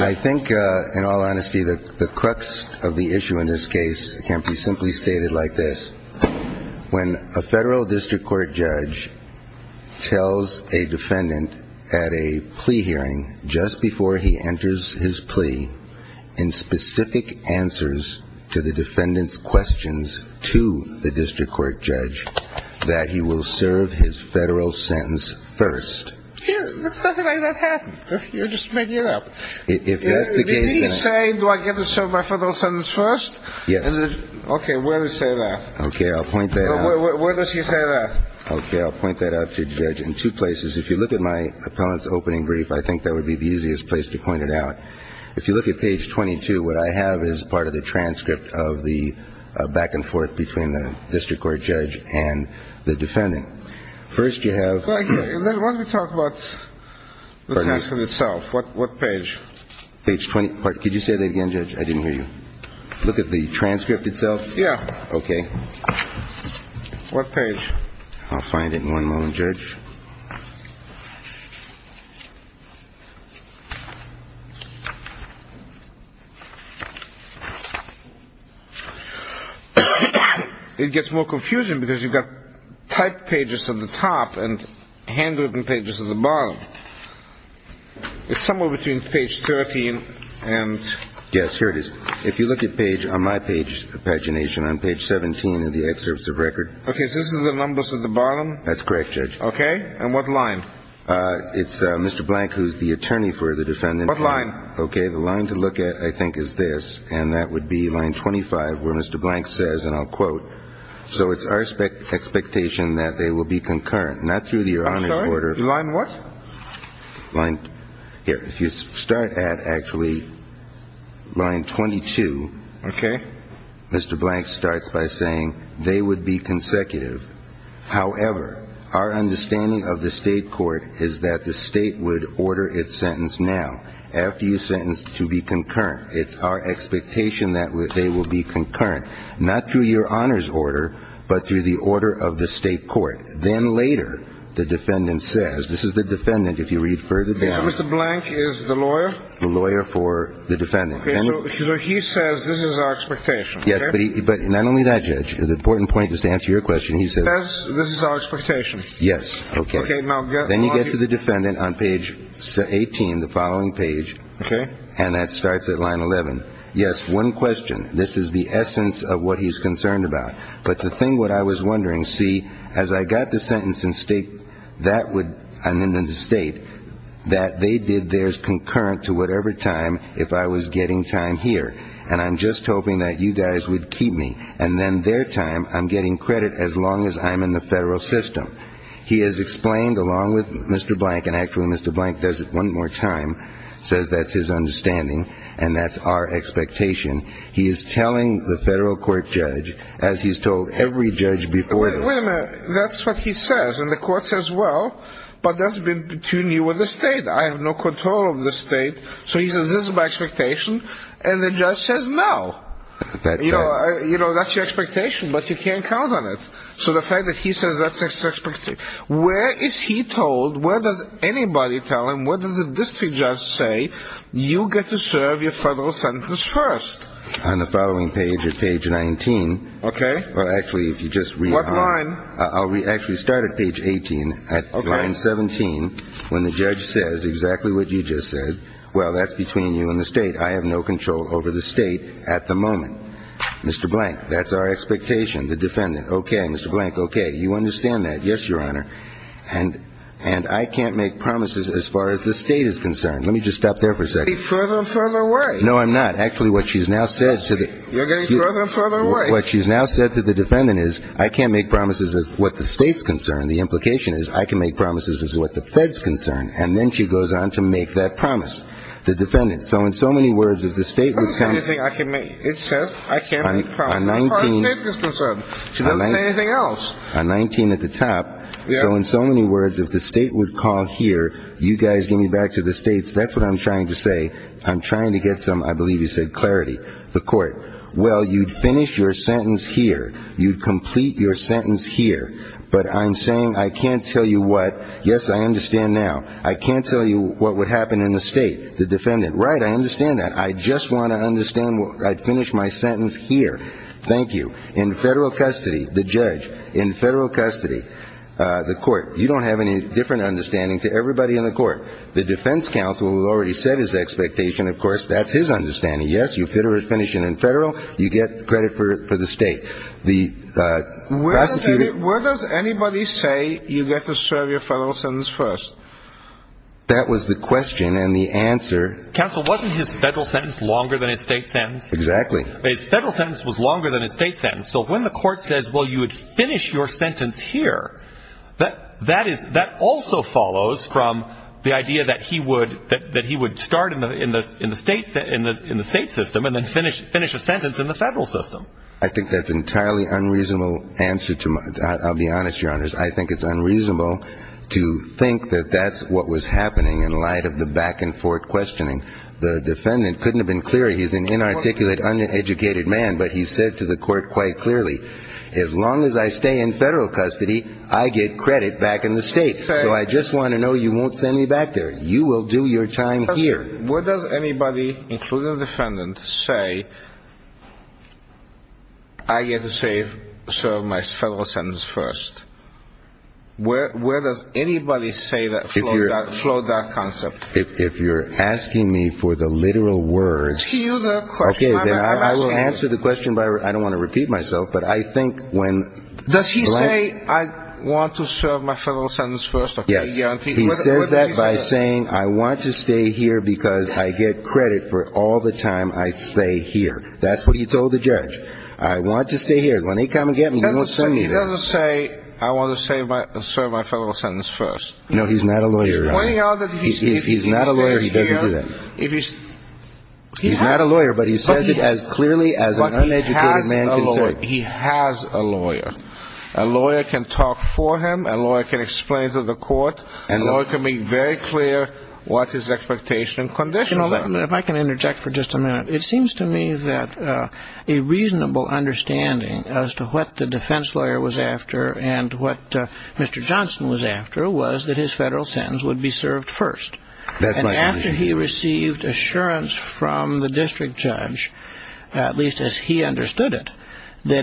I think in all honesty, the crux of the issue in this case can be simply stated like this. When a federal district court judge tells a defendant at a plea hearing just before he enters his plea in specific answers to the defendant's questions to the district court judge, that he will serve his federal sentence first. There's nothing like that happening. You're just making it up. If he's saying, do I get to serve my federal sentence first? Okay, where does he say that? Okay, I'll point that out. Where does he say that? Okay, I'll point that out to the judge in two places. If you look at my appellant's opening brief, I think that would be the easiest place to point it out. If you look at page 22, what I have is part of the transcript of the back and forth between the district court judge and the defendant. First you have... Let me talk about the transcript itself. What page? Page 20. Could you say that again, judge? I didn't hear you. Look at the transcript itself? Yeah. Okay. I'll find it in one moment, judge. It gets more confusing because you've got typed pages at the top and handwritten pages at the bottom. It's somewhere between page 13 and... Yes, here it is. If you look at page, on my page, pagination on page 17 in the excerpts of record... Okay, so this is the numbers at the bottom? That's correct, judge. Okay, and what line? It's Mr. Blank, who's the attorney for the defendant. What line? Okay, the line to look at, I think, is this, and that would be line 25, where Mr. Blank says, and I'll quote, so it's our expectation that they will be concurrent, not through the Your Honor's order... I'm sorry, the line what? Here, if you start at, actually, line 22... Okay. Mr. Blank starts by saying, they would be consecutive. However, our understanding of the state court is that the state would order its sentence now, after you sentence, to be concurrent. It's our expectation that they will be concurrent, not through Your Honor's order, but through the order of the state court. Then later, the defendant says, this is the defendant, if you read further down... So Mr. Blank is the lawyer? The lawyer for the defendant. Okay, so he says this is our expectation. Yes, but not only that, Judge, the important point is to answer your question. He says this is our expectation. Yes, okay. Then you get to the defendant on page 18, the following page, and that starts at line 11. Yes, one question. This is the essence of what he's concerned about. But the thing, what I was wondering, see, as I got the sentence in the state, that they did theirs concurrent to whatever time, if I was getting time here. And I'm just hoping that you guys would keep me. And then their time, I'm getting credit as long as I'm in the federal system. He has explained, along with Mr. Blank, and actually Mr. Blank does it one more time, says that's his understanding, and that's our expectation. He is telling the federal court, Judge, as he's told every judge before this. Wait a minute. That's what he says. And the court says, well, but that's between you and the state. I have no control of the state. So he says this is my expectation. And the judge says no. You know, that's your expectation, but you can't count on it. So the fact that he says that's his expectation. Where is he told, where does anybody tell him, where does the district judge say, you get to serve your federal sentence first? On the following page at page 19. Okay. Well, actually, if you just read. What line? I'll actually start at page 18, line 17, when the judge says exactly what you just said. Well, that's between you and the state. I have no control over the state at the moment. Mr. Blank, that's our expectation. The defendant, okay. Mr. Blank, okay. You understand that. Yes, Your Honor. And I can't make promises as far as the state is concerned. Let me just stop there for a second. You're getting further and further away. No, I'm not. Actually, what she's now said to the. You're getting further and further away. What she's now said to the defendant is I can't make promises as far as the state is concerned. The implication is I can make promises as far as the feds concerned. And then she goes on to make that promise. The defendant. So in so many words, if the state would come. It says I can't make promises as far as the state is concerned. She doesn't say anything else. A 19 at the top. So in so many words, if the state would call here, you guys give me back to the states. That's what I'm trying to say. I'm trying to get some, I believe you said clarity, the court. Well, you'd finish your sentence here. You'd complete your sentence here. But I'm saying I can't tell you what. Yes, I understand now. I can't tell you what would happen in the state. The defendant. Right. I understand that. I just want to understand. I'd finish my sentence here. Thank you. In federal custody. The judge in federal custody. The court. You don't have any different understanding to everybody in the court. The defense counsel already said his expectation. Of course, that's his understanding. Yes, you finish it in federal. You get credit for the state. Where does anybody say you get to serve your federal sentence first? That was the question and the answer. Counsel, wasn't his federal sentence longer than his state sentence? Exactly. His federal sentence was longer than his state sentence. So when the court says, well, you would finish your sentence here. That also follows from the idea that he would start in the state system and then finish a sentence in the federal system. I think that's an entirely unreasonable answer. I'll be honest, Your Honors. I think it's unreasonable to think that that's what was happening in light of the back and forth questioning. The defendant couldn't have been clearer. He's an inarticulate, uneducated man. But he said to the court quite clearly, as long as I stay in federal custody, I get credit back in the state. So I just want to know you won't send me back there. You will do your time here. Where does anybody, including the defendant, say I get to serve my federal sentence first? Where does anybody say that flowed that concept? If you're asking me for the literal words, okay, then I will answer the question. I don't want to repeat myself. But I think when does he say I want to serve my federal sentence first? Yes. He says that by saying I want to stay here because I get credit for all the time I stay here. That's what he told the judge. I want to stay here. When they come and get me, you will send me there. He doesn't say I want to serve my federal sentence first. No, he's not a lawyer. If he's not a lawyer, he doesn't do that. He's not a lawyer, but he says it as clearly as an uneducated man can say it. He has a lawyer. A lawyer can talk for him. A lawyer can explain to the court. A lawyer can be very clear what his expectation and conditions are. If I can interject for just a minute. It seems to me that a reasonable understanding as to what the defense lawyer was after and what Mr. Johnson was after was that his federal sentence would be served first. And after he received assurance from the district judge, at least as he understood it, that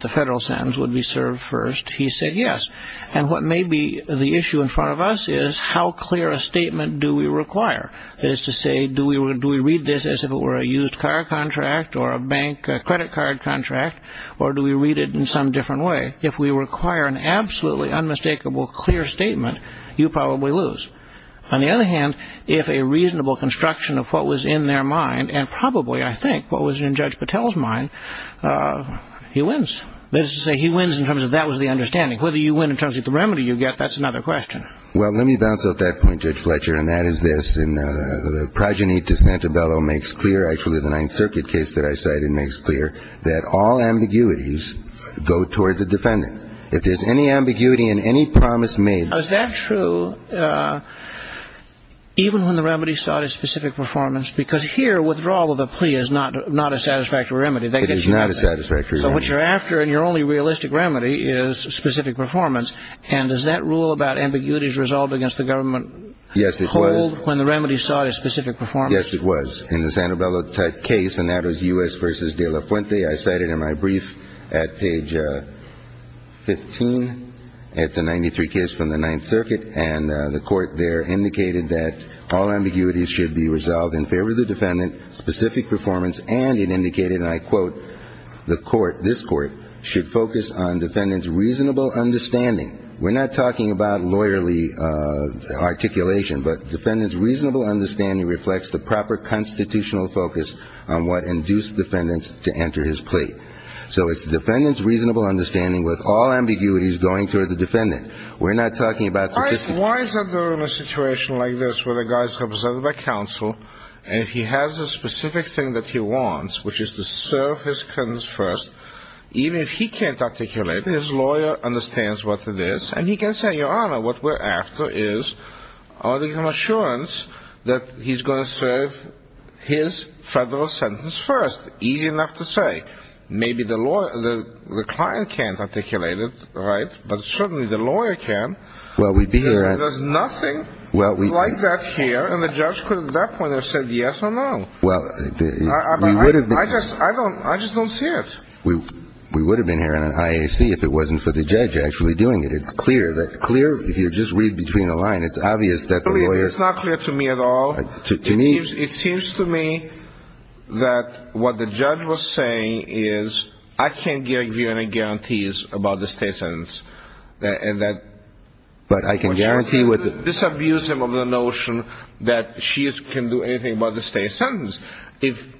the federal sentence would be served first, he said yes. And what may be the issue in front of us is how clear a statement do we require? That is to say, do we read this as if it were a used car contract or a bank credit card contract or do we read it in some different way? If we require an absolutely unmistakable clear statement, you probably lose. On the other hand, if a reasonable construction of what was in their mind and probably, I think, what was in Judge Patel's mind, he wins. That is to say, he wins in terms of that was the understanding. Whether you win in terms of the remedy you get, that's another question. Well, let me bounce off that point, Judge Fletcher, and that is this. The progeny to Santabello makes clear, actually the Ninth Circuit case that I cited makes clear, that all ambiguities go toward the defendant. If there's any ambiguity in any promise made. Now, is that true even when the remedy sought a specific performance? Because here withdrawal of the plea is not a satisfactory remedy. It is not a satisfactory remedy. So what you're after in your only realistic remedy is specific performance. And does that rule about ambiguities resolved against the government hold when the remedy sought a specific performance? Yes, it was. In the Santabello type case, and that was U.S. v. De La Fuente, I cited in my brief at page 15, it's a 93 case from the Ninth Circuit, and the court there indicated that all ambiguities should be resolved in favor of the defendant, specific performance, and it indicated, and I quote, the court, this court, should focus on defendant's reasonable understanding. We're not talking about lawyerly articulation, but defendant's reasonable understanding reflects the proper constitutional focus on what induced defendants to enter his plea. So it's the defendant's reasonable understanding with all ambiguities going toward the defendant. We're not talking about statistic. Why is it in a situation like this where the guy is represented by counsel, and he has a specific thing that he wants, which is to serve his clients first, even if he can't articulate, his lawyer understands what it is, and he can say, Your Honor, what we're after is article of assurance that he's going to serve his federal sentence first. Easy enough to say. Maybe the client can't articulate it, right, but certainly the lawyer can. Well, we'd be here. There's nothing like that here, and the judge could at that point have said yes or no. I just don't see it. We would have been here in an IAC if it wasn't for the judge actually doing it. It's clear. If you just read between the lines, it's obvious that the lawyer. It's not clear to me at all. To me. It seems to me that what the judge was saying is I can't give you any guarantees about the state sentence. But I can guarantee with. Disabuse him of the notion that she can do anything about the state sentence. If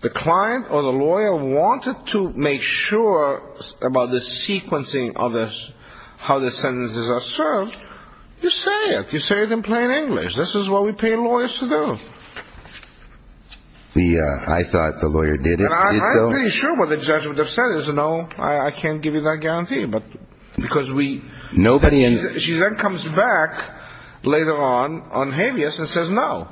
the client or the lawyer wanted to make sure about the sequencing of how the sentences are served, you say it. You say it in plain English. This is what we pay lawyers to do. I thought the lawyer did so. And I'm pretty sure what the judge would have said is no, I can't give you that guarantee. But because we. She then comes back later on on habeas and says no.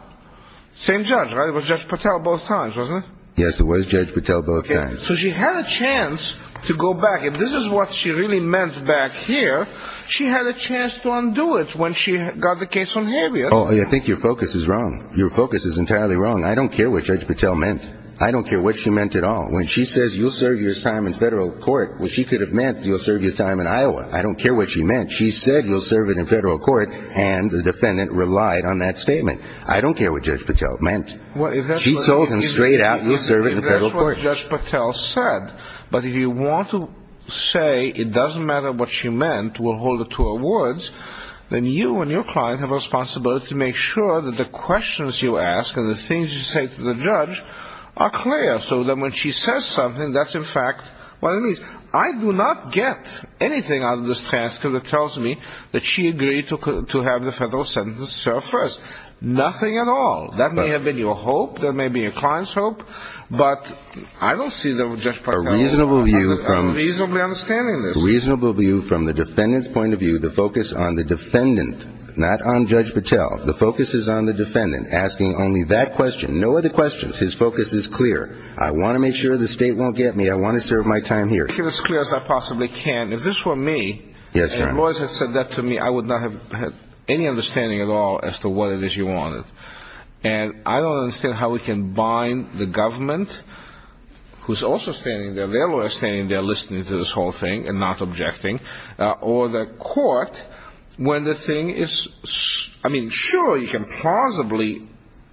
Same judge. It was just Patel both times, wasn't it? Yes, it was. Judge Patel both times. So she had a chance to go back. And this is what she really meant back here. She had a chance to undo it when she got the case on habeas. Oh, I think your focus is wrong. Your focus is entirely wrong. I don't care what Judge Patel meant. I don't care what she meant at all. When she says you'll serve your time in federal court, which she could have meant you'll serve your time in Iowa. I don't care what she meant. She said you'll serve it in federal court. And the defendant relied on that statement. I don't care what Judge Patel meant. She told him straight out you'll serve it in federal court. That's what Judge Patel said. But if you want to say it doesn't matter what she meant, we'll hold it to her words, then you and your client have a responsibility to make sure that the questions you ask and the things you say to the judge are clear. So that when she says something, that's in fact what it means. I do not get anything out of this transcript that tells me that she agreed to have the federal sentence served first. Nothing at all. That may have been your hope. That may be your client's hope. But I don't see that with Judge Patel. I'm reasonably understanding this. A reasonable view from the defendant's point of view, the focus on the defendant, not on Judge Patel. The focus is on the defendant asking only that question. No other questions. His focus is clear. I want to make sure the state won't get me. I want to serve my time here. Make it as clear as I possibly can. If this were me and lawyers had said that to me, I would not have had any understanding at all as to what it is you wanted. And I don't understand how we can bind the government, who's also standing there, their lawyers standing there listening to this whole thing and not objecting, or the court when the thing is, I mean, sure, you can plausibly,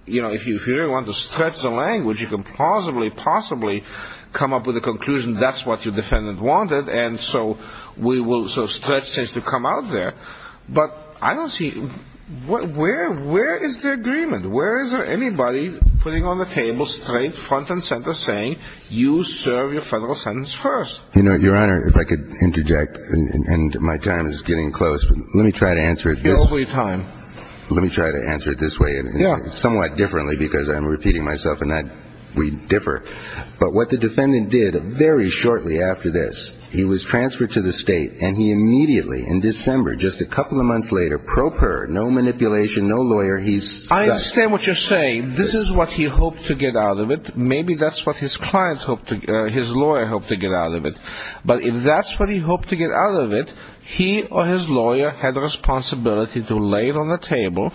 you know, if you really want to stretch the language, you can plausibly, possibly come up with a conclusion that's what your defendant wanted. And so we will sort of stretch things to come out there. But I don't see – where is the agreement? Where is there anybody putting on the table straight front and center saying you serve your federal sentence first? You know, Your Honor, if I could interject, and my time is getting close. Let me try to answer it. You're over your time. Let me try to answer it this way. Yeah. Somewhat differently because I'm repeating myself and we differ. But what the defendant did very shortly after this, he was transferred to the state and he immediately in December, just a couple of months later, pro per, no manipulation, no lawyer, he's – I understand what you're saying. This is what he hoped to get out of it. Maybe that's what his clients hoped to – his lawyer hoped to get out of it. But if that's what he hoped to get out of it, he or his lawyer had the responsibility to lay it on the table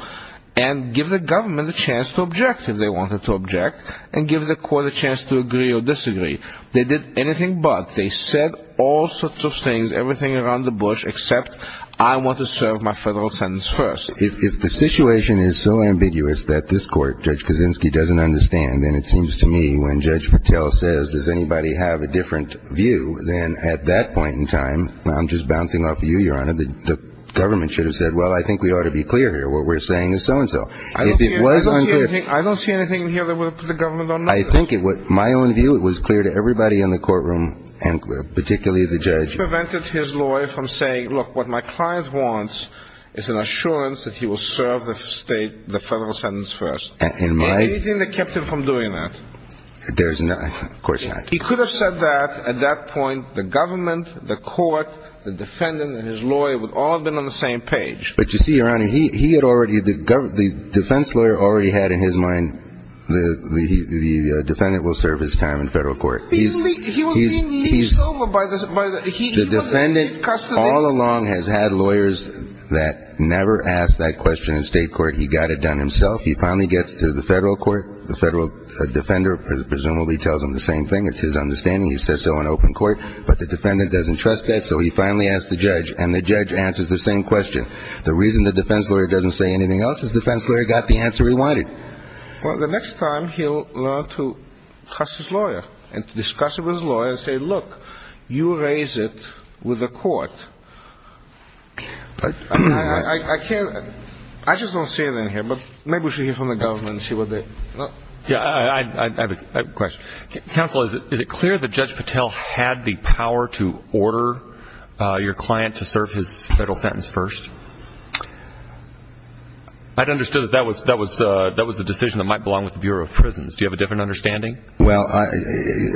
and give the government the chance to object if they wanted to object and give the court a chance to agree or disagree. They did anything but. They said all sorts of things, everything around the bush, except I want to serve my federal sentence first. If the situation is so ambiguous that this court, Judge Kaczynski, doesn't understand, then it seems to me when Judge Patel says, does anybody have a different view, then at that point in time, I'm just bouncing off of you, Your Honor, the government should have said, well, I think we ought to be clear here, what we're saying is so-and-so. If it was unclear – I don't see anything in here that would have put the government on notice. I think it would – my own view, it was clear to everybody in the courtroom and particularly the judge. He prevented his lawyer from saying, look, what my client wants is an assurance that he will serve the federal sentence first. In my – He was doing that. There's no – of course not. He could have said that at that point. The government, the court, the defendant, and his lawyer would all have been on the same page. But you see, Your Honor, he had already – the defense lawyer already had in his mind the defendant will serve his time in federal court. He was being leased over by the – he was in state custody. The defendant all along has had lawyers that never asked that question in state court. He got it done himself. He finally gets to the federal court. The federal defender presumably tells him the same thing. It's his understanding. He says so in open court. But the defendant doesn't trust that, so he finally asks the judge. And the judge answers the same question. The reason the defense lawyer doesn't say anything else is the defense lawyer got the answer he wanted. Well, the next time he'll learn to trust his lawyer and discuss it with his lawyer and say, look, you raise it with the court. I can't – I just don't see it in here, but maybe we should hear from the government and see what they – Yeah, I have a question. Counsel, is it clear that Judge Patel had the power to order your client to serve his federal sentence first? I'd understood that that was a decision that might belong with the Bureau of Prisons. Do you have a different understanding? Well,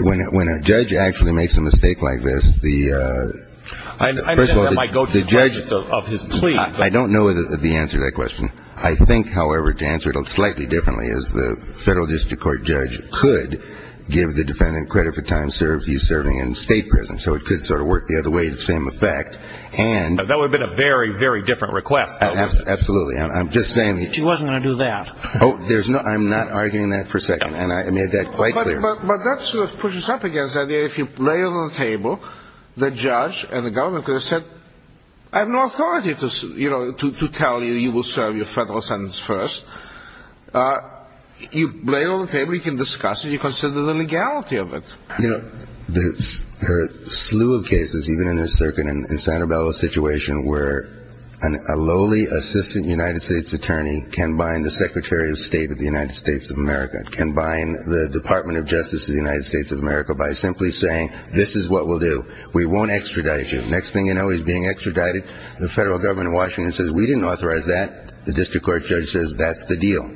when a judge actually makes a mistake like this, the – I understand that might go to the question of his plea. I don't know the answer to that question. I think, however, to answer it slightly differently is the federal district court judge could give the defendant credit for time he's serving in state prison. So it could sort of work the other way, the same effect. That would have been a very, very different request. Absolutely. I'm just saying. She wasn't going to do that. Oh, there's no – I'm not arguing that for a second. And I made that quite clear. But that sort of pushes up against the idea if you lay it on the table, the judge and the government could have said, I have no authority to tell you you will serve your federal sentence first. You lay it on the table. You can discuss it. You consider the legality of it. You know, there are a slew of cases, even in this circuit in Santa Bella situation, where a lowly assistant United States attorney can bind the Secretary of State of the United States of America, can bind the Department of Justice of the United States of America by simply saying this is what we'll do. We won't extradite you. Next thing you know, he's being extradited. The federal government in Washington says we didn't authorize that. The district court judge says that's the deal.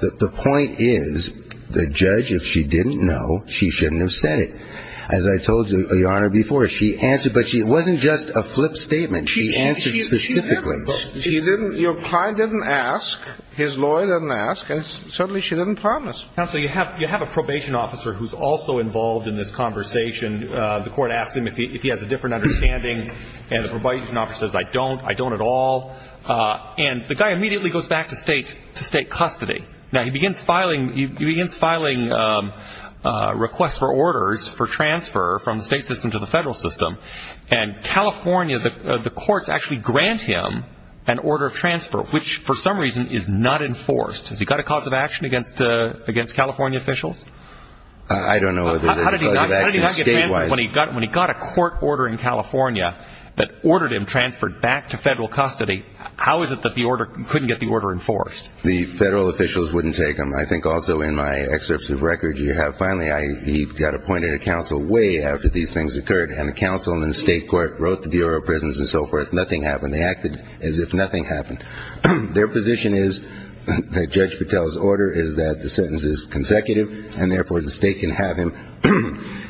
The point is the judge, if she didn't know, she shouldn't have said it. As I told you, Your Honor, before, she answered, but it wasn't just a flip statement. She answered specifically. She didn't – your client didn't ask. His lawyer didn't ask. And certainly she didn't promise. Counsel, you have a probation officer who's also involved in this conversation. The court asked him if he has a different understanding, and the probation officer says I don't. I don't at all. And the guy immediately goes back to state custody. Now, he begins filing requests for orders for transfer from the state system to the federal system, and California, the courts actually grant him an order of transfer, which for some reason is not enforced. Has he got a cause of action against California officials? I don't know whether there's a cause of action state-wise. How did he not get transferred when he got a court order in California that ordered him transferred back to federal custody? How is it that the order – couldn't get the order enforced? The federal officials wouldn't take him. I think also in my excerpts of records you have finally he got appointed to counsel way after these things occurred, and the counsel in the state court wrote the Bureau of Prisons and so forth. Nothing happened. They acted as if nothing happened. Their position is that Judge Patel's order is that the sentence is consecutive, and therefore the state can have him.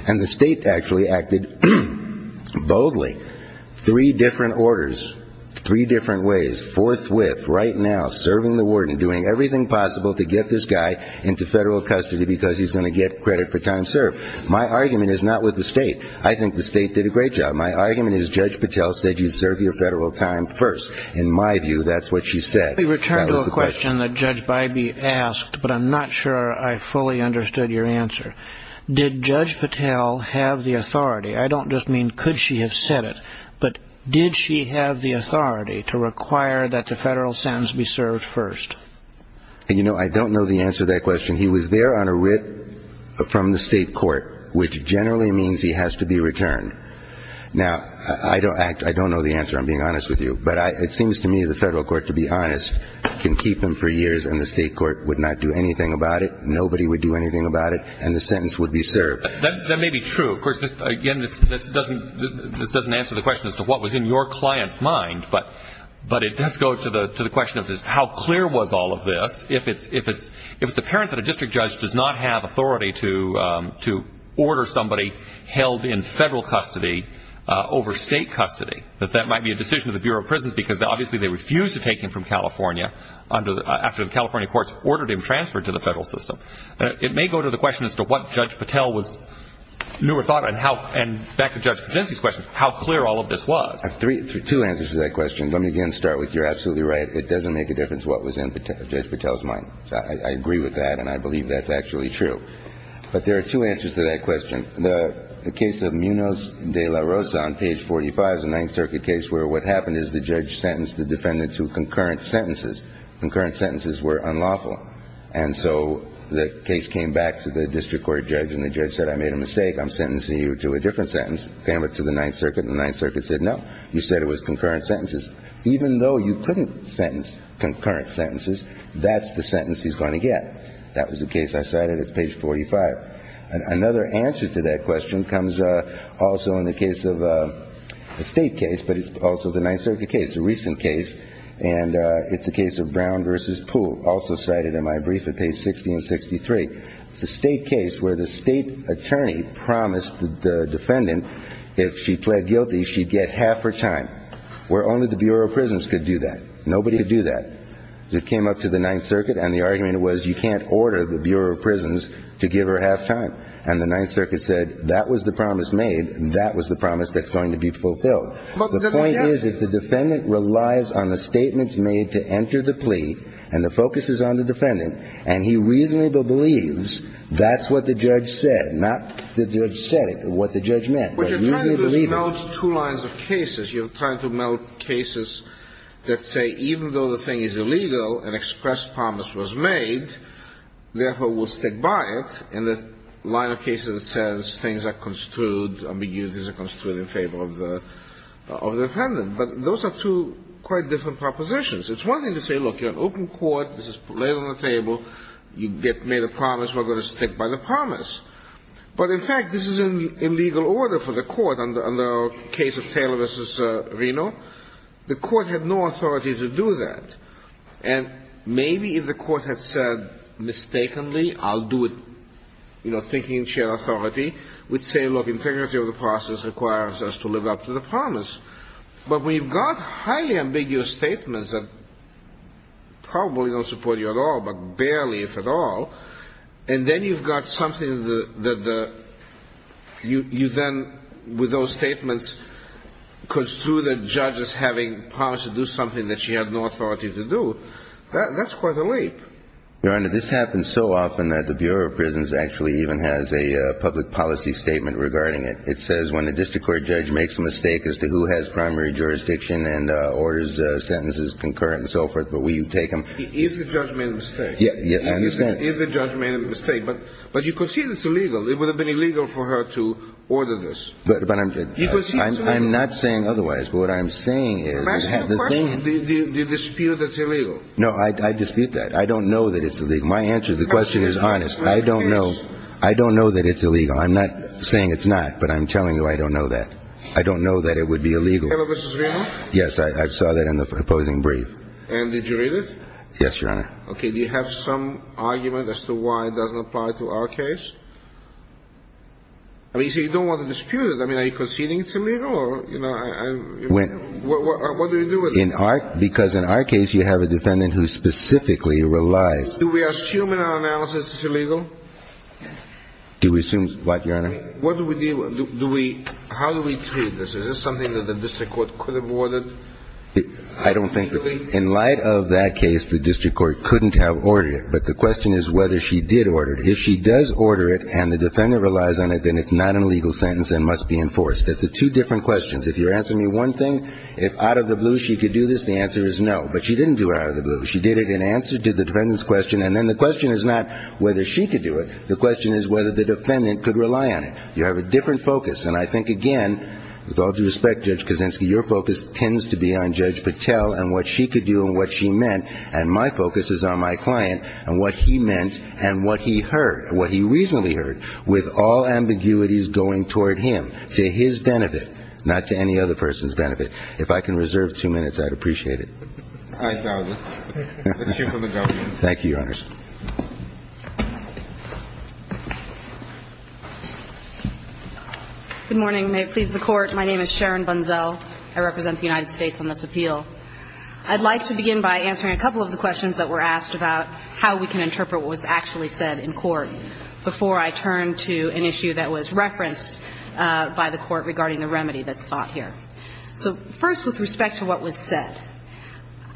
And the state actually acted boldly. Three different orders, three different ways, forthwith, right now, serving the warden, doing everything possible to get this guy into federal custody because he's going to get credit for time served. My argument is not with the state. I think the state did a great job. My argument is Judge Patel said you serve your federal time first. In my view, that's what she said. Let me return to a question that Judge Bybee asked, but I'm not sure I fully understood your answer. Did Judge Patel have the authority – I don't just mean could she have said it, but did she have the authority to require that the federal sentence be served first? You know, I don't know the answer to that question. He was there on a writ from the state court, which generally means he has to be returned. Now, I don't know the answer, I'm being honest with you. But it seems to me the federal court, to be honest, can keep him for years, and the state court would not do anything about it, nobody would do anything about it, and the sentence would be served. That may be true. Of course, again, this doesn't answer the question as to what was in your client's mind, but let's go to the question of how clear was all of this. If it's apparent that a district judge does not have authority to order somebody held in federal custody over state custody, that that might be a decision of the Bureau of Prisons because, obviously, they refused to take him from California after the California courts ordered him transferred to the federal system. It may go to the question as to what Judge Patel knew or thought, and back to Judge Cosensi's question, how clear all of this was. Two answers to that question. Let me again start with you're absolutely right. It doesn't make a difference what was in Judge Patel's mind. I agree with that, and I believe that's actually true. But there are two answers to that question. The case of Munoz de la Rosa on page 45 is a Ninth Circuit case where what happened is the judge sentenced the defendant to concurrent sentences. Concurrent sentences were unlawful, and so the case came back to the district court judge, and the judge said, I made a mistake. I'm sentencing you to a different sentence. Came back to the Ninth Circuit, and the Ninth Circuit said, no, you said it was concurrent sentences. Even though you couldn't sentence concurrent sentences, that's the sentence he's going to get. That was the case I cited. It's page 45. Another answer to that question comes also in the case of a state case, but it's also the Ninth Circuit case. It's a recent case, and it's the case of Brown v. Pool, also cited in my brief at page 60 and 63. It's a state case where the state attorney promised the defendant if she pled guilty she'd get half her time, where only the Bureau of Prisons could do that. Nobody could do that. It came up to the Ninth Circuit, and the argument was you can't order the Bureau of Prisons to give her half time. And the Ninth Circuit said that was the promise made, and that was the promise that's going to be fulfilled. The point is, if the defendant relies on the statements made to enter the plea, and the focus is on the defendant, and he reasonably believes that's what the judge said, not the judge said it, what the judge meant. But you're trying to just melt two lines of cases. You're trying to melt cases that say even though the thing is illegal, an expressed promise was made, therefore we'll stick by it, and the line of cases that says things are construed, ambiguities are construed in favor of the defendant. But those are two quite different propositions. It's one thing to say, look, you're an open court, this is laid on the table, you get made a promise, we're going to stick by the promise. But in fact, this is an illegal order for the court under the case of Taylor v. Reno. The court had no authority to do that. And maybe if the court had said mistakenly, I'll do it, you know, thinking in shared authority, we'd say, look, integrity of the process requires us to live up to the promise. But when you've got highly ambiguous statements that probably don't support you at all, but barely if at all, and then you've got something that you then, with those statements, construe the judge as having promised to do something that she had no authority to do, that's quite a leap. Your Honor, this happens so often that the Bureau of Prisons actually even has a public policy statement regarding it. It says when a district court judge makes a mistake as to who has primary jurisdiction and orders sentences concurrent and so forth, but we take them. Yes, I understand. If the judge made a mistake. But you concede it's illegal. It would have been illegal for her to order this. But I'm not saying otherwise. But what I'm saying is the thing. But that's your question, the dispute that's illegal. No, I dispute that. I don't know that it's illegal. My answer to the question is honest. I don't know. I don't know that it's illegal. I'm not saying it's not, but I'm telling you I don't know that. I don't know that it would be illegal. Taylor v. Reno? Yes, I saw that in the opposing brief. And did you read it? Yes, Your Honor. Okay. Do you have some argument as to why it doesn't apply to our case? I mean, so you don't want to dispute it. I mean, are you conceding it's illegal? What do we do with it? Because in our case, you have a defendant who specifically relies. Do we assume in our analysis it's illegal? Do we assume what, Your Honor? What do we do? How do we treat this? Is this something that the district court could have ordered? I don't think so. In light of that case, the district court couldn't have ordered it. But the question is whether she did order it. If she does order it and the defendant relies on it, then it's not a legal sentence and must be enforced. It's two different questions. If you're asking me one thing, if out of the blue she could do this, the answer is no. But she didn't do it out of the blue. She did it in answer to the defendant's question. And then the question is not whether she could do it. The question is whether the defendant could rely on it. You have a different focus. And I think, again, with all due respect, Judge Kaczynski, your focus tends to be on Judge Patel and what she could do and what she meant. And my focus is on my client and what he meant and what he heard, what he recently heard, with all ambiguities going toward him, to his benefit, not to any other person's benefit. If I can reserve two minutes, I'd appreciate it. Thank you, Your Honor. Good morning. May it please the Court. My name is Sharon Bunzel. I represent the United States on this appeal. I'd like to begin by answering a couple of the questions that were asked about how we can interpret what was actually said in court before I turn to an issue that was referenced by the Court regarding the remedy that's sought here. So first, with respect to what was said.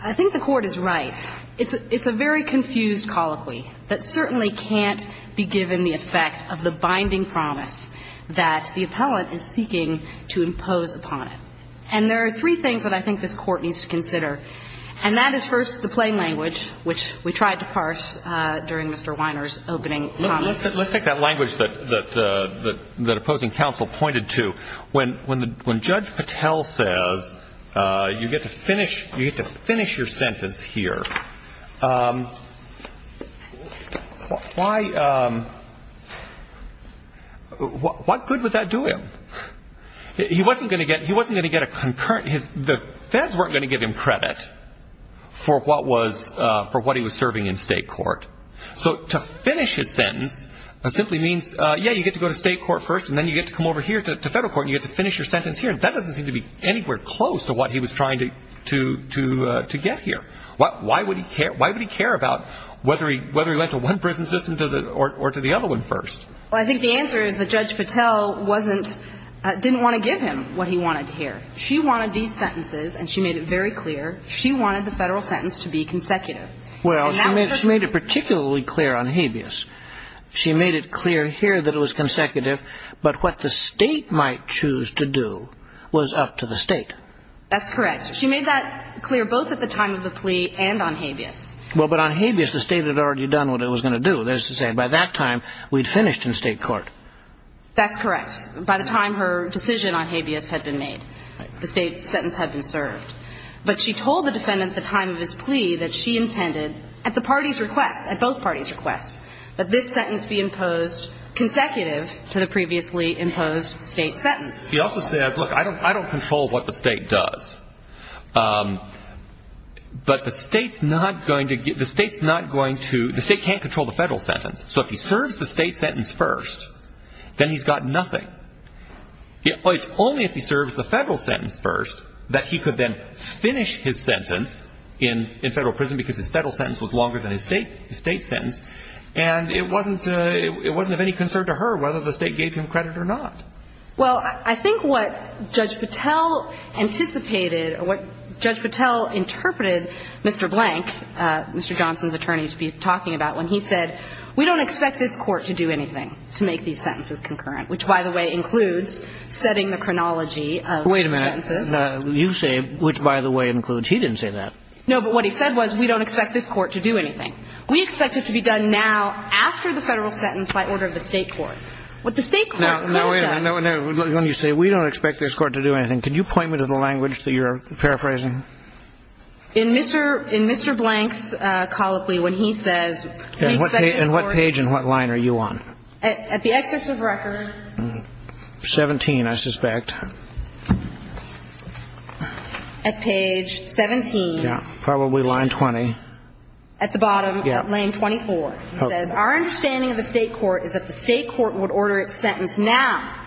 I think the Court is right. It's a very confused colloquy that certainly can't be given the effect of the binding promise that the appellant is seeking to impose upon it. And there are three things that I think this Court needs to consider. And that is, first, the plain language, which we tried to parse during Mr. Weiner's opening comments. Let's take that language that opposing counsel pointed to. When Judge Patel says you get to finish your sentence here, what good would that do him? He wasn't going to get a concurrent. The feds weren't going to give him credit for what he was serving in state court. So to finish his sentence simply means, yeah, you get to go to state court first, and then you get to come over here to federal court, and you get to finish your sentence here. That doesn't seem to be anywhere close to what he was trying to get here. Why would he care about whether he went to one prison system or to the other one first? Well, I think the answer is that Judge Patel didn't want to give him what he wanted here. She wanted these sentences, and she made it very clear. She wanted the federal sentence to be consecutive. Well, she made it particularly clear on habeas. She made it clear here that it was consecutive, but what the state might choose to do was up to the state. That's correct. She made that clear both at the time of the plea and on habeas. Well, but on habeas, the state had already done what it was going to do. That is to say, by that time, we'd finished in state court. That's correct. By the time her decision on habeas had been made, the state sentence had been served. But she told the defendant at the time of his plea that she intended, at the party's request, at both parties' requests, that this sentence be imposed consecutive to the previously imposed state sentence. She also said, look, I don't control what the state does. But the state's not going to – the state can't control the federal sentence. So if he serves the state sentence first, then he's got nothing. It's only if he serves the federal sentence first that he could then finish his sentence in federal prison because his federal sentence was longer than his state sentence. And it wasn't of any concern to her whether the state gave him credit or not. Well, I think what Judge Patel anticipated or what Judge Patel interpreted Mr. Blank, Mr. Johnson's attorney, to be talking about when he said, we don't expect this court to do anything to make these sentences concurrent, which, by the way, includes setting the chronology of the sentences. Wait a minute. You say, which, by the way, includes – he didn't say that. No, but what he said was we don't expect this court to do anything. We expect it to be done now after the federal sentence by order of the state court. What the state court could have done – Now, wait a minute. When you say we don't expect this court to do anything, can you point me to the language that you're paraphrasing? In Mr. Blank's colloquy when he says, we expect this court – And what page and what line are you on? At the excerpt of record. 17, I suspect. At page 17. Yeah, probably line 20. At the bottom of lane 24. He says, our understanding of the state court is that the state court would order its sentence now,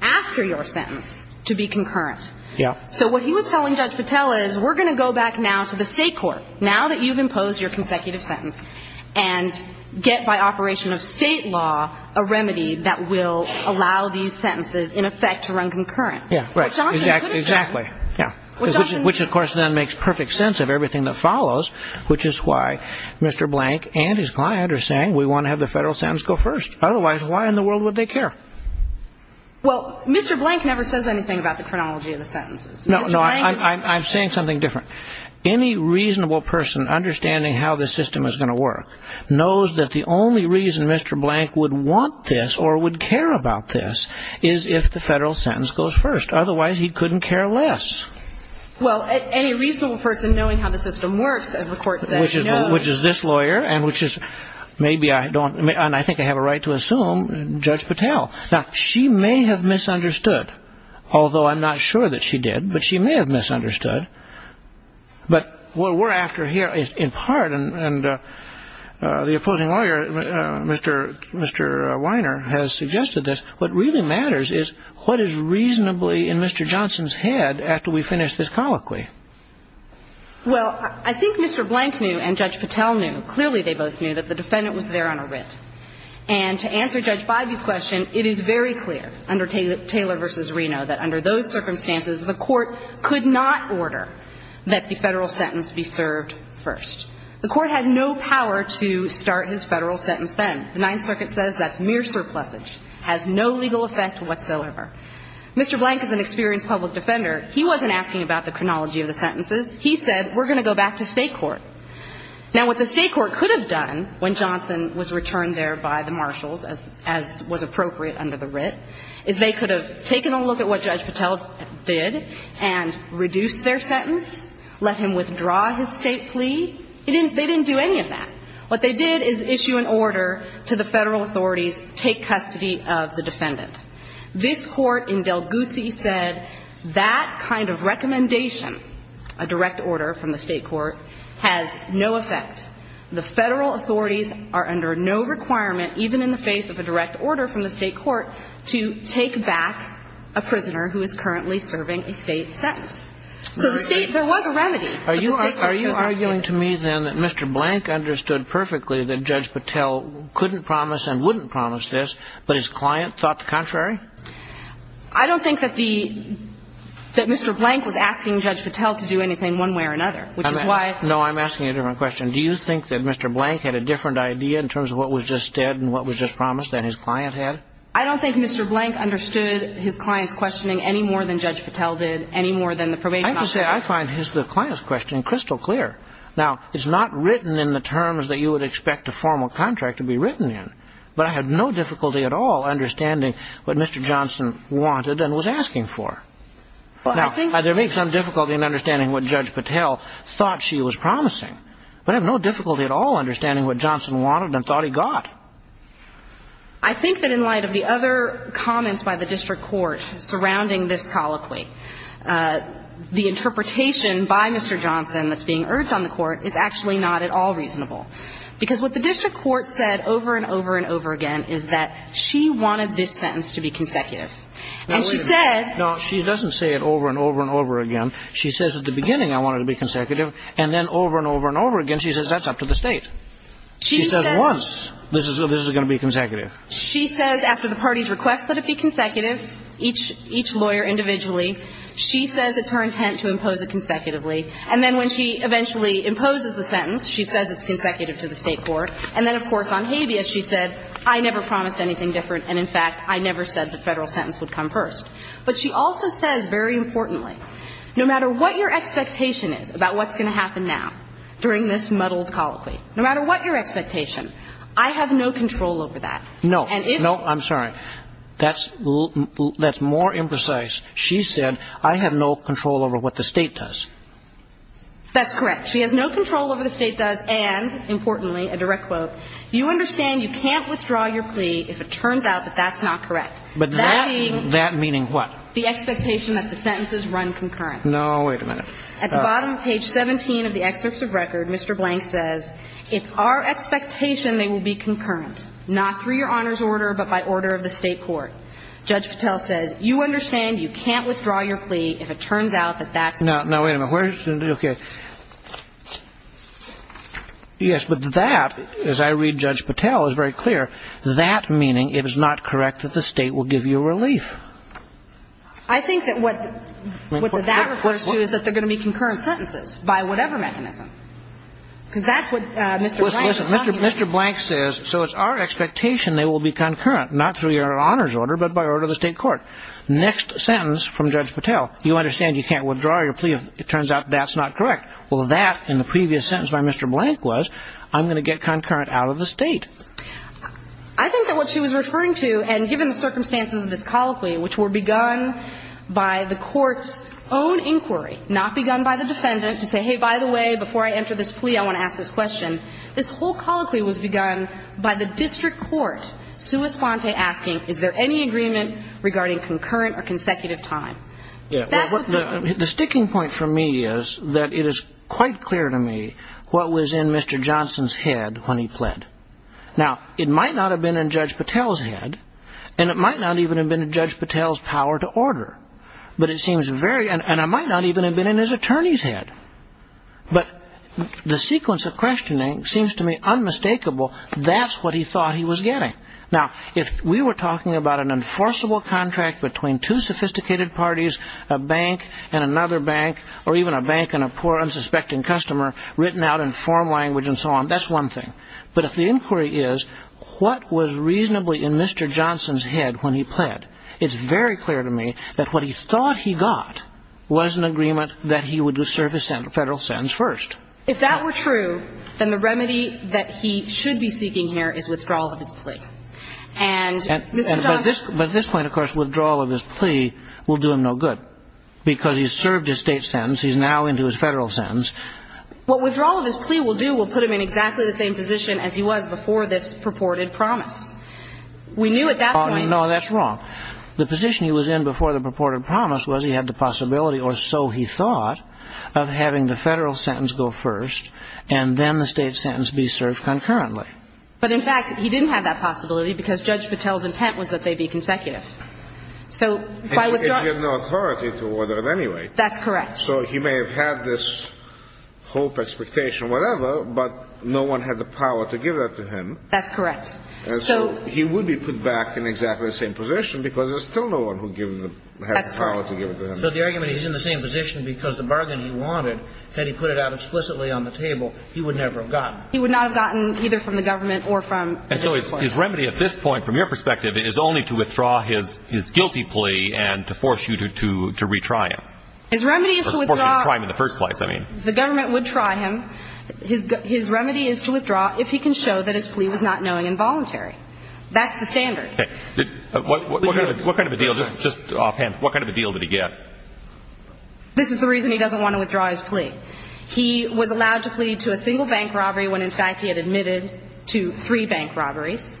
after your sentence, to be concurrent. Yeah. So what he was telling Judge Patel is we're going to go back now to the state court, now that you've imposed your consecutive sentence, and get by operation of state law a remedy that will allow these sentences, in effect, to run concurrent. Yeah, right. Which Johnson could have done. Exactly. Which, of course, then makes perfect sense of everything that follows, which is why Mr. Blank and his client are saying we want to have the federal sentence go first. Otherwise, why in the world would they care? Well, Mr. Blank never says anything about the chronology of the sentences. No, no, I'm saying something different. Any reasonable person understanding how the system is going to work knows that the only reason Mr. Blank would want this or would care about this is if the federal sentence goes first. Otherwise, he couldn't care less. Well, any reasonable person knowing how the system works, as the court says, knows. Which is this lawyer, and which is – maybe I don't – Now, she may have misunderstood, although I'm not sure that she did. But she may have misunderstood. But what we're after here is, in part, and the opposing lawyer, Mr. Weiner, has suggested this, what really matters is what is reasonably in Mr. Johnson's head after we finish this colloquy. Well, I think Mr. Blank knew and Judge Patel knew, clearly they both knew, that the defendant was there on a writ. And to answer Judge Bivey's question, it is very clear under Taylor v. Reno that under those circumstances, the court could not order that the federal sentence be served first. The court had no power to start his federal sentence then. The Ninth Circuit says that's mere surplusage. It has no legal effect whatsoever. Mr. Blank is an experienced public defender. He wasn't asking about the chronology of the sentences. He said, we're going to go back to State court. Now, what the State court could have done when Johnson was returned there by the marshals, as was appropriate under the writ, is they could have taken a look at what Judge Patel did and reduced their sentence, let him withdraw his State plea. They didn't do any of that. What they did is issue an order to the federal authorities, take custody of the defendant. This court in Del Guzzi said that kind of recommendation, a direct order from the State court, has no effect. The federal authorities are under no requirement, even in the face of a direct order from the State court, to take back a prisoner who is currently serving a State sentence. So the State, there was a remedy, but the State court chose not to do it. Are you arguing to me then that Mr. Blank understood perfectly that Judge Patel couldn't promise and wouldn't promise this, but his client thought the contrary? I don't think that Mr. Blank was asking Judge Patel to do anything one way or another, which is why. No, I'm asking a different question. Do you think that Mr. Blank had a different idea in terms of what was just said and what was just promised than his client had? I don't think Mr. Blank understood his client's questioning any more than Judge Patel did, any more than the probation officer did. I find the client's question crystal clear. Now, it's not written in the terms that you would expect a formal contract to be written in, but I have no difficulty at all understanding what Mr. Johnson wanted and was asking for. Now, there may be some difficulty in understanding what Judge Patel thought she was promising, but I have no difficulty at all understanding what Johnson wanted and thought he got. I think that in light of the other comments by the district court surrounding this colloquy, the interpretation by Mr. Johnson that's being urged on the Court is actually not at all reasonable, because what the district court said over and over and over again is that she wanted this sentence to be consecutive. And she said --" Now, wait a minute. No, she doesn't say it over and over and over again. She says at the beginning I want it to be consecutive, and then over and over and over again she says that's up to the State. She says once this is going to be consecutive. She says after the party's request that it be consecutive, each lawyer individually she says it's her intent to impose it consecutively. And then when she eventually imposes the sentence, she says it's consecutive to the State court. And then, of course, on habeas she said, I never promised anything different, and in fact, I never said the Federal sentence would come first. But she also says, very importantly, no matter what your expectation is about what's going to happen now during this muddled colloquy, no matter what your expectation, I have no control over that. And if you don't. And then more imprecise, she said, I have no control over what the State does. That's correct. She has no control over what the State does and, importantly, a direct quote, you understand you can't withdraw your plea if it turns out that that's not correct. But that being the expectation that the sentences run concurrent. No, wait a minute. At the bottom of page 17 of the excerpts of record, Mr. Blank says, it's our expectation they will be concurrent, not through your Honor's order, but by order of the State court. Judge Patel says, you understand you can't withdraw your plea if it turns out that that's not correct. Now, wait a minute. Okay. Yes, but that, as I read Judge Patel, is very clear. That meaning it is not correct that the State will give you relief. I think that what that refers to is that there are going to be concurrent sentences by whatever mechanism. Because that's what Mr. Blank is talking about. Mr. Blank says, so it's our expectation they will be concurrent, not through your Honor's order, but by order of the State court. Next sentence from Judge Patel, you understand you can't withdraw your plea if it turns out that that's not correct. Well, that in the previous sentence by Mr. Blank was, I'm going to get concurrent out of the State. I think that what she was referring to, and given the circumstances of this colloquy, which were begun by the court's own inquiry, not begun by the defendant to say, hey, by the way, before I enter this plea, I want to ask this question. This whole colloquy was begun by the district court sui sponte asking, is there any agreement regarding concurrent or consecutive time? The sticking point for me is that it is quite clear to me what was in Mr. Johnson's head when he pled. Now, it might not have been in Judge Patel's head, and it might not even have been in Judge Patel's power to order. But it seems very, and it might not even have been in his attorney's head. But the sequence of questioning seems to me unmistakable. That's what he thought he was getting. Now, if we were talking about an enforceable contract between two sophisticated parties, a bank and another bank, or even a bank and a poor, unsuspecting customer written out in form language and so on, that's one thing. But if the inquiry is what was reasonably in Mr. Johnson's head when he pled, it's very clear to me that what he thought he got was an agreement that he would serve his federal sentence first. If that were true, then the remedy that he should be seeking here is withdrawal of his plea. And Mr. Johnson... But at this point, of course, withdrawal of his plea will do him no good because he's served his state sentence. He's now into his federal sentence. What withdrawal of his plea will do will put him in exactly the same position as he was before this purported promise. We knew at that point... No, that's wrong. The position he was in before the purported promise was he had the possibility, or so he thought, of having the federal sentence go first and then the state sentence be served concurrently. But, in fact, he didn't have that possibility because Judge Patel's intent was that they be consecutive. So by withdrawing... And he had no authority to order it anyway. That's correct. So he may have had this hope, expectation, whatever, but no one had the power to give that to him. That's correct. So he would be put back in exactly the same position because there's still no one who has the power to give it to him. So the argument he's in the same position because the bargain he wanted, had he put it out explicitly on the table, he would never have gotten it. He would not have gotten either from the government or from... And so his remedy at this point, from your perspective, is only to withdraw his guilty plea and to force you to retry him. His remedy is to withdraw... Or force him to try him in the first place, I mean. The government would try him. His remedy is to withdraw if he can show that his plea was not knowing and voluntary. That's the standard. Okay. What kind of a deal... Just offhand, what kind of a deal did he get? This is the reason he doesn't want to withdraw his plea. He was allowed to plead to a single bank robbery when, in fact, he had admitted to three bank robberies.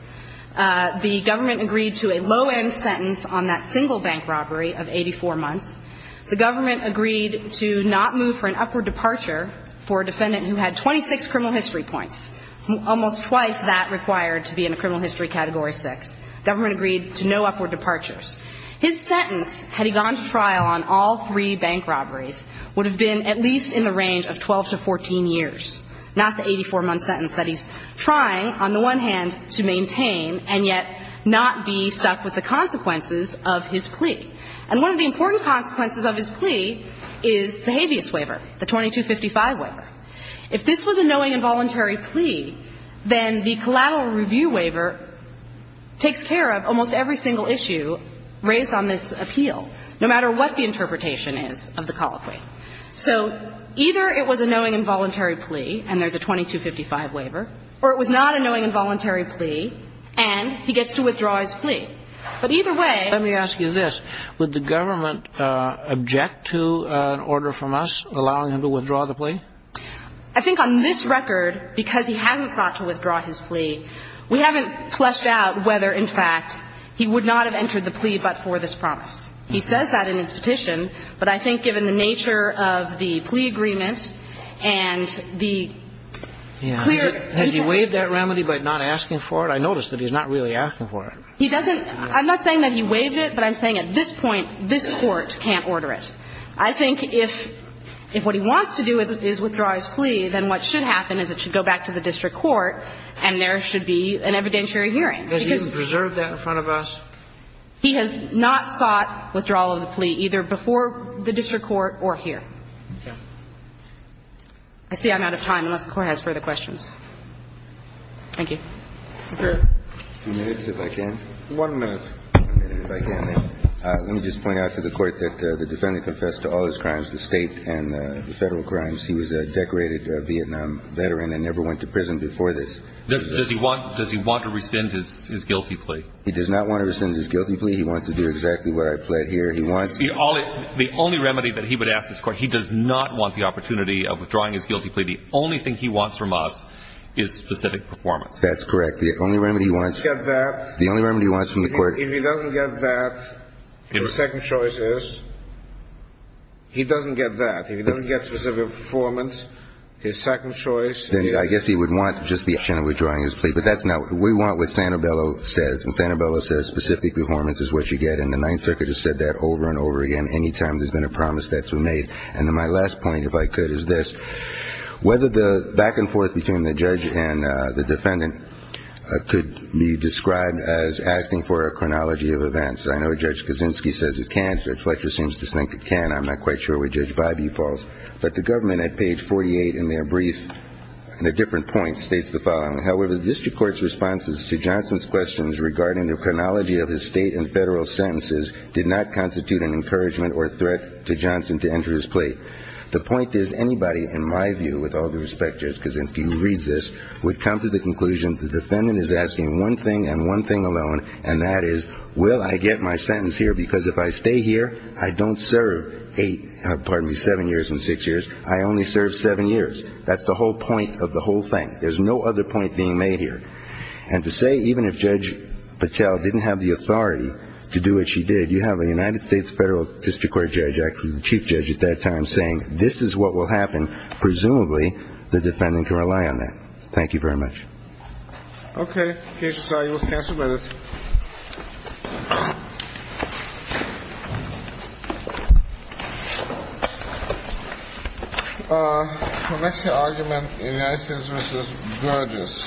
The government agreed to a low-end sentence on that single bank robbery of 84 months. The government agreed to not move for an upward departure for a defendant who had 26 criminal history points, almost twice that required to be in a criminal history category 6. The government agreed to no upward departures. His sentence, had he gone to trial on all three bank robberies, would have been at least in the range of 12 to 14 years, not the 84-month sentence that he's trying, on the one hand, to maintain and yet not be stuck with the consequences of his plea. And one of the important consequences of his plea is the habeas waiver, the 2255 waiver. If this was a knowing and voluntary plea, then the collateral review waiver takes care of almost every single issue raised on this appeal, no matter what the interpretation is of the colloquy. So either it was a knowing and voluntary plea, and there's a 2255 waiver, or it was not a knowing and voluntary plea, and he gets to withdraw his plea. But either way, let me ask you this. Would the government object to an order from us allowing him to withdraw the plea? I think on this record, because he hasn't sought to withdraw his plea, we haven't fleshed out whether, in fact, he would not have entered the plea but for this promise. He says that in his petition, but I think given the nature of the plea agreement and the clear intent of it. Yeah. Has he waived that remedy by not asking for it? I noticed that he's not really asking for it. He doesn't – I'm not saying that he waived it, but I'm saying at this point, this Court can't order it. I think if what he wants to do is withdraw his plea, then what should happen is it should go back to the district court and there should be an evidentiary hearing. Has he even preserved that in front of us? He has not sought withdrawal of the plea, either before the district court or here. Okay. I see I'm out of time, unless the Court has further questions. Thank you. Thank you. A few minutes, if I can. One minute. Let me just point out to the Court that the defendant confessed to all his crimes, the State and the Federal crimes. He was a decorated Vietnam veteran and never went to prison before this. Does he want to rescind his guilty plea? He does not want to rescind his guilty plea. He wants to do exactly what I pled here. He wants – The only remedy that he would ask this Court, he does not want the opportunity of withdrawing his guilty plea. The only thing he wants from us is specific performance. That's correct. The only remedy he wants – If he doesn't get that – The only remedy he wants from the Court – If he doesn't get that, the second choice is he doesn't get that. If he doesn't get specific performance, his second choice is – Then I guess he would want just the option of withdrawing his plea. But that's not – we want what Santabello says. And Santabello says specific performance is what you get. And the Ninth Circuit has said that over and over again. Any time there's been a promise, that's been made. And then my last point, if I could, is this. Whether the back and forth between the judge and the defendant could be described as asking for a chronology of events. I know Judge Kaczynski says it can. Judge Fletcher seems to think it can. I'm not quite sure what Judge Bybee falls. But the government at page 48 in their brief, in a different point, states the following. However, the district court's responses to Johnson's questions regarding the chronology of his state and federal sentences did not constitute an encouragement or threat to Johnson to enter his plea. The point is anybody, in my view, with all due respect, Judge Kaczynski, who reads this, would come to the conclusion the defendant is asking one thing and one thing alone, and that is, well, I get my sentence here because if I stay here, I don't serve eight, pardon me, seven years and six years. I only serve seven years. That's the whole point of the whole thing. There's no other point being made here. And to say even if Judge Patel didn't have the authority to do what she did, you have a United States federal district court judge, actually the chief judge at that time, saying this is what will happen, presumably the defendant can rely on that. Thank you very much. Okay. Kaci, you are cancelled with it. The next argument in United States v. Burgess.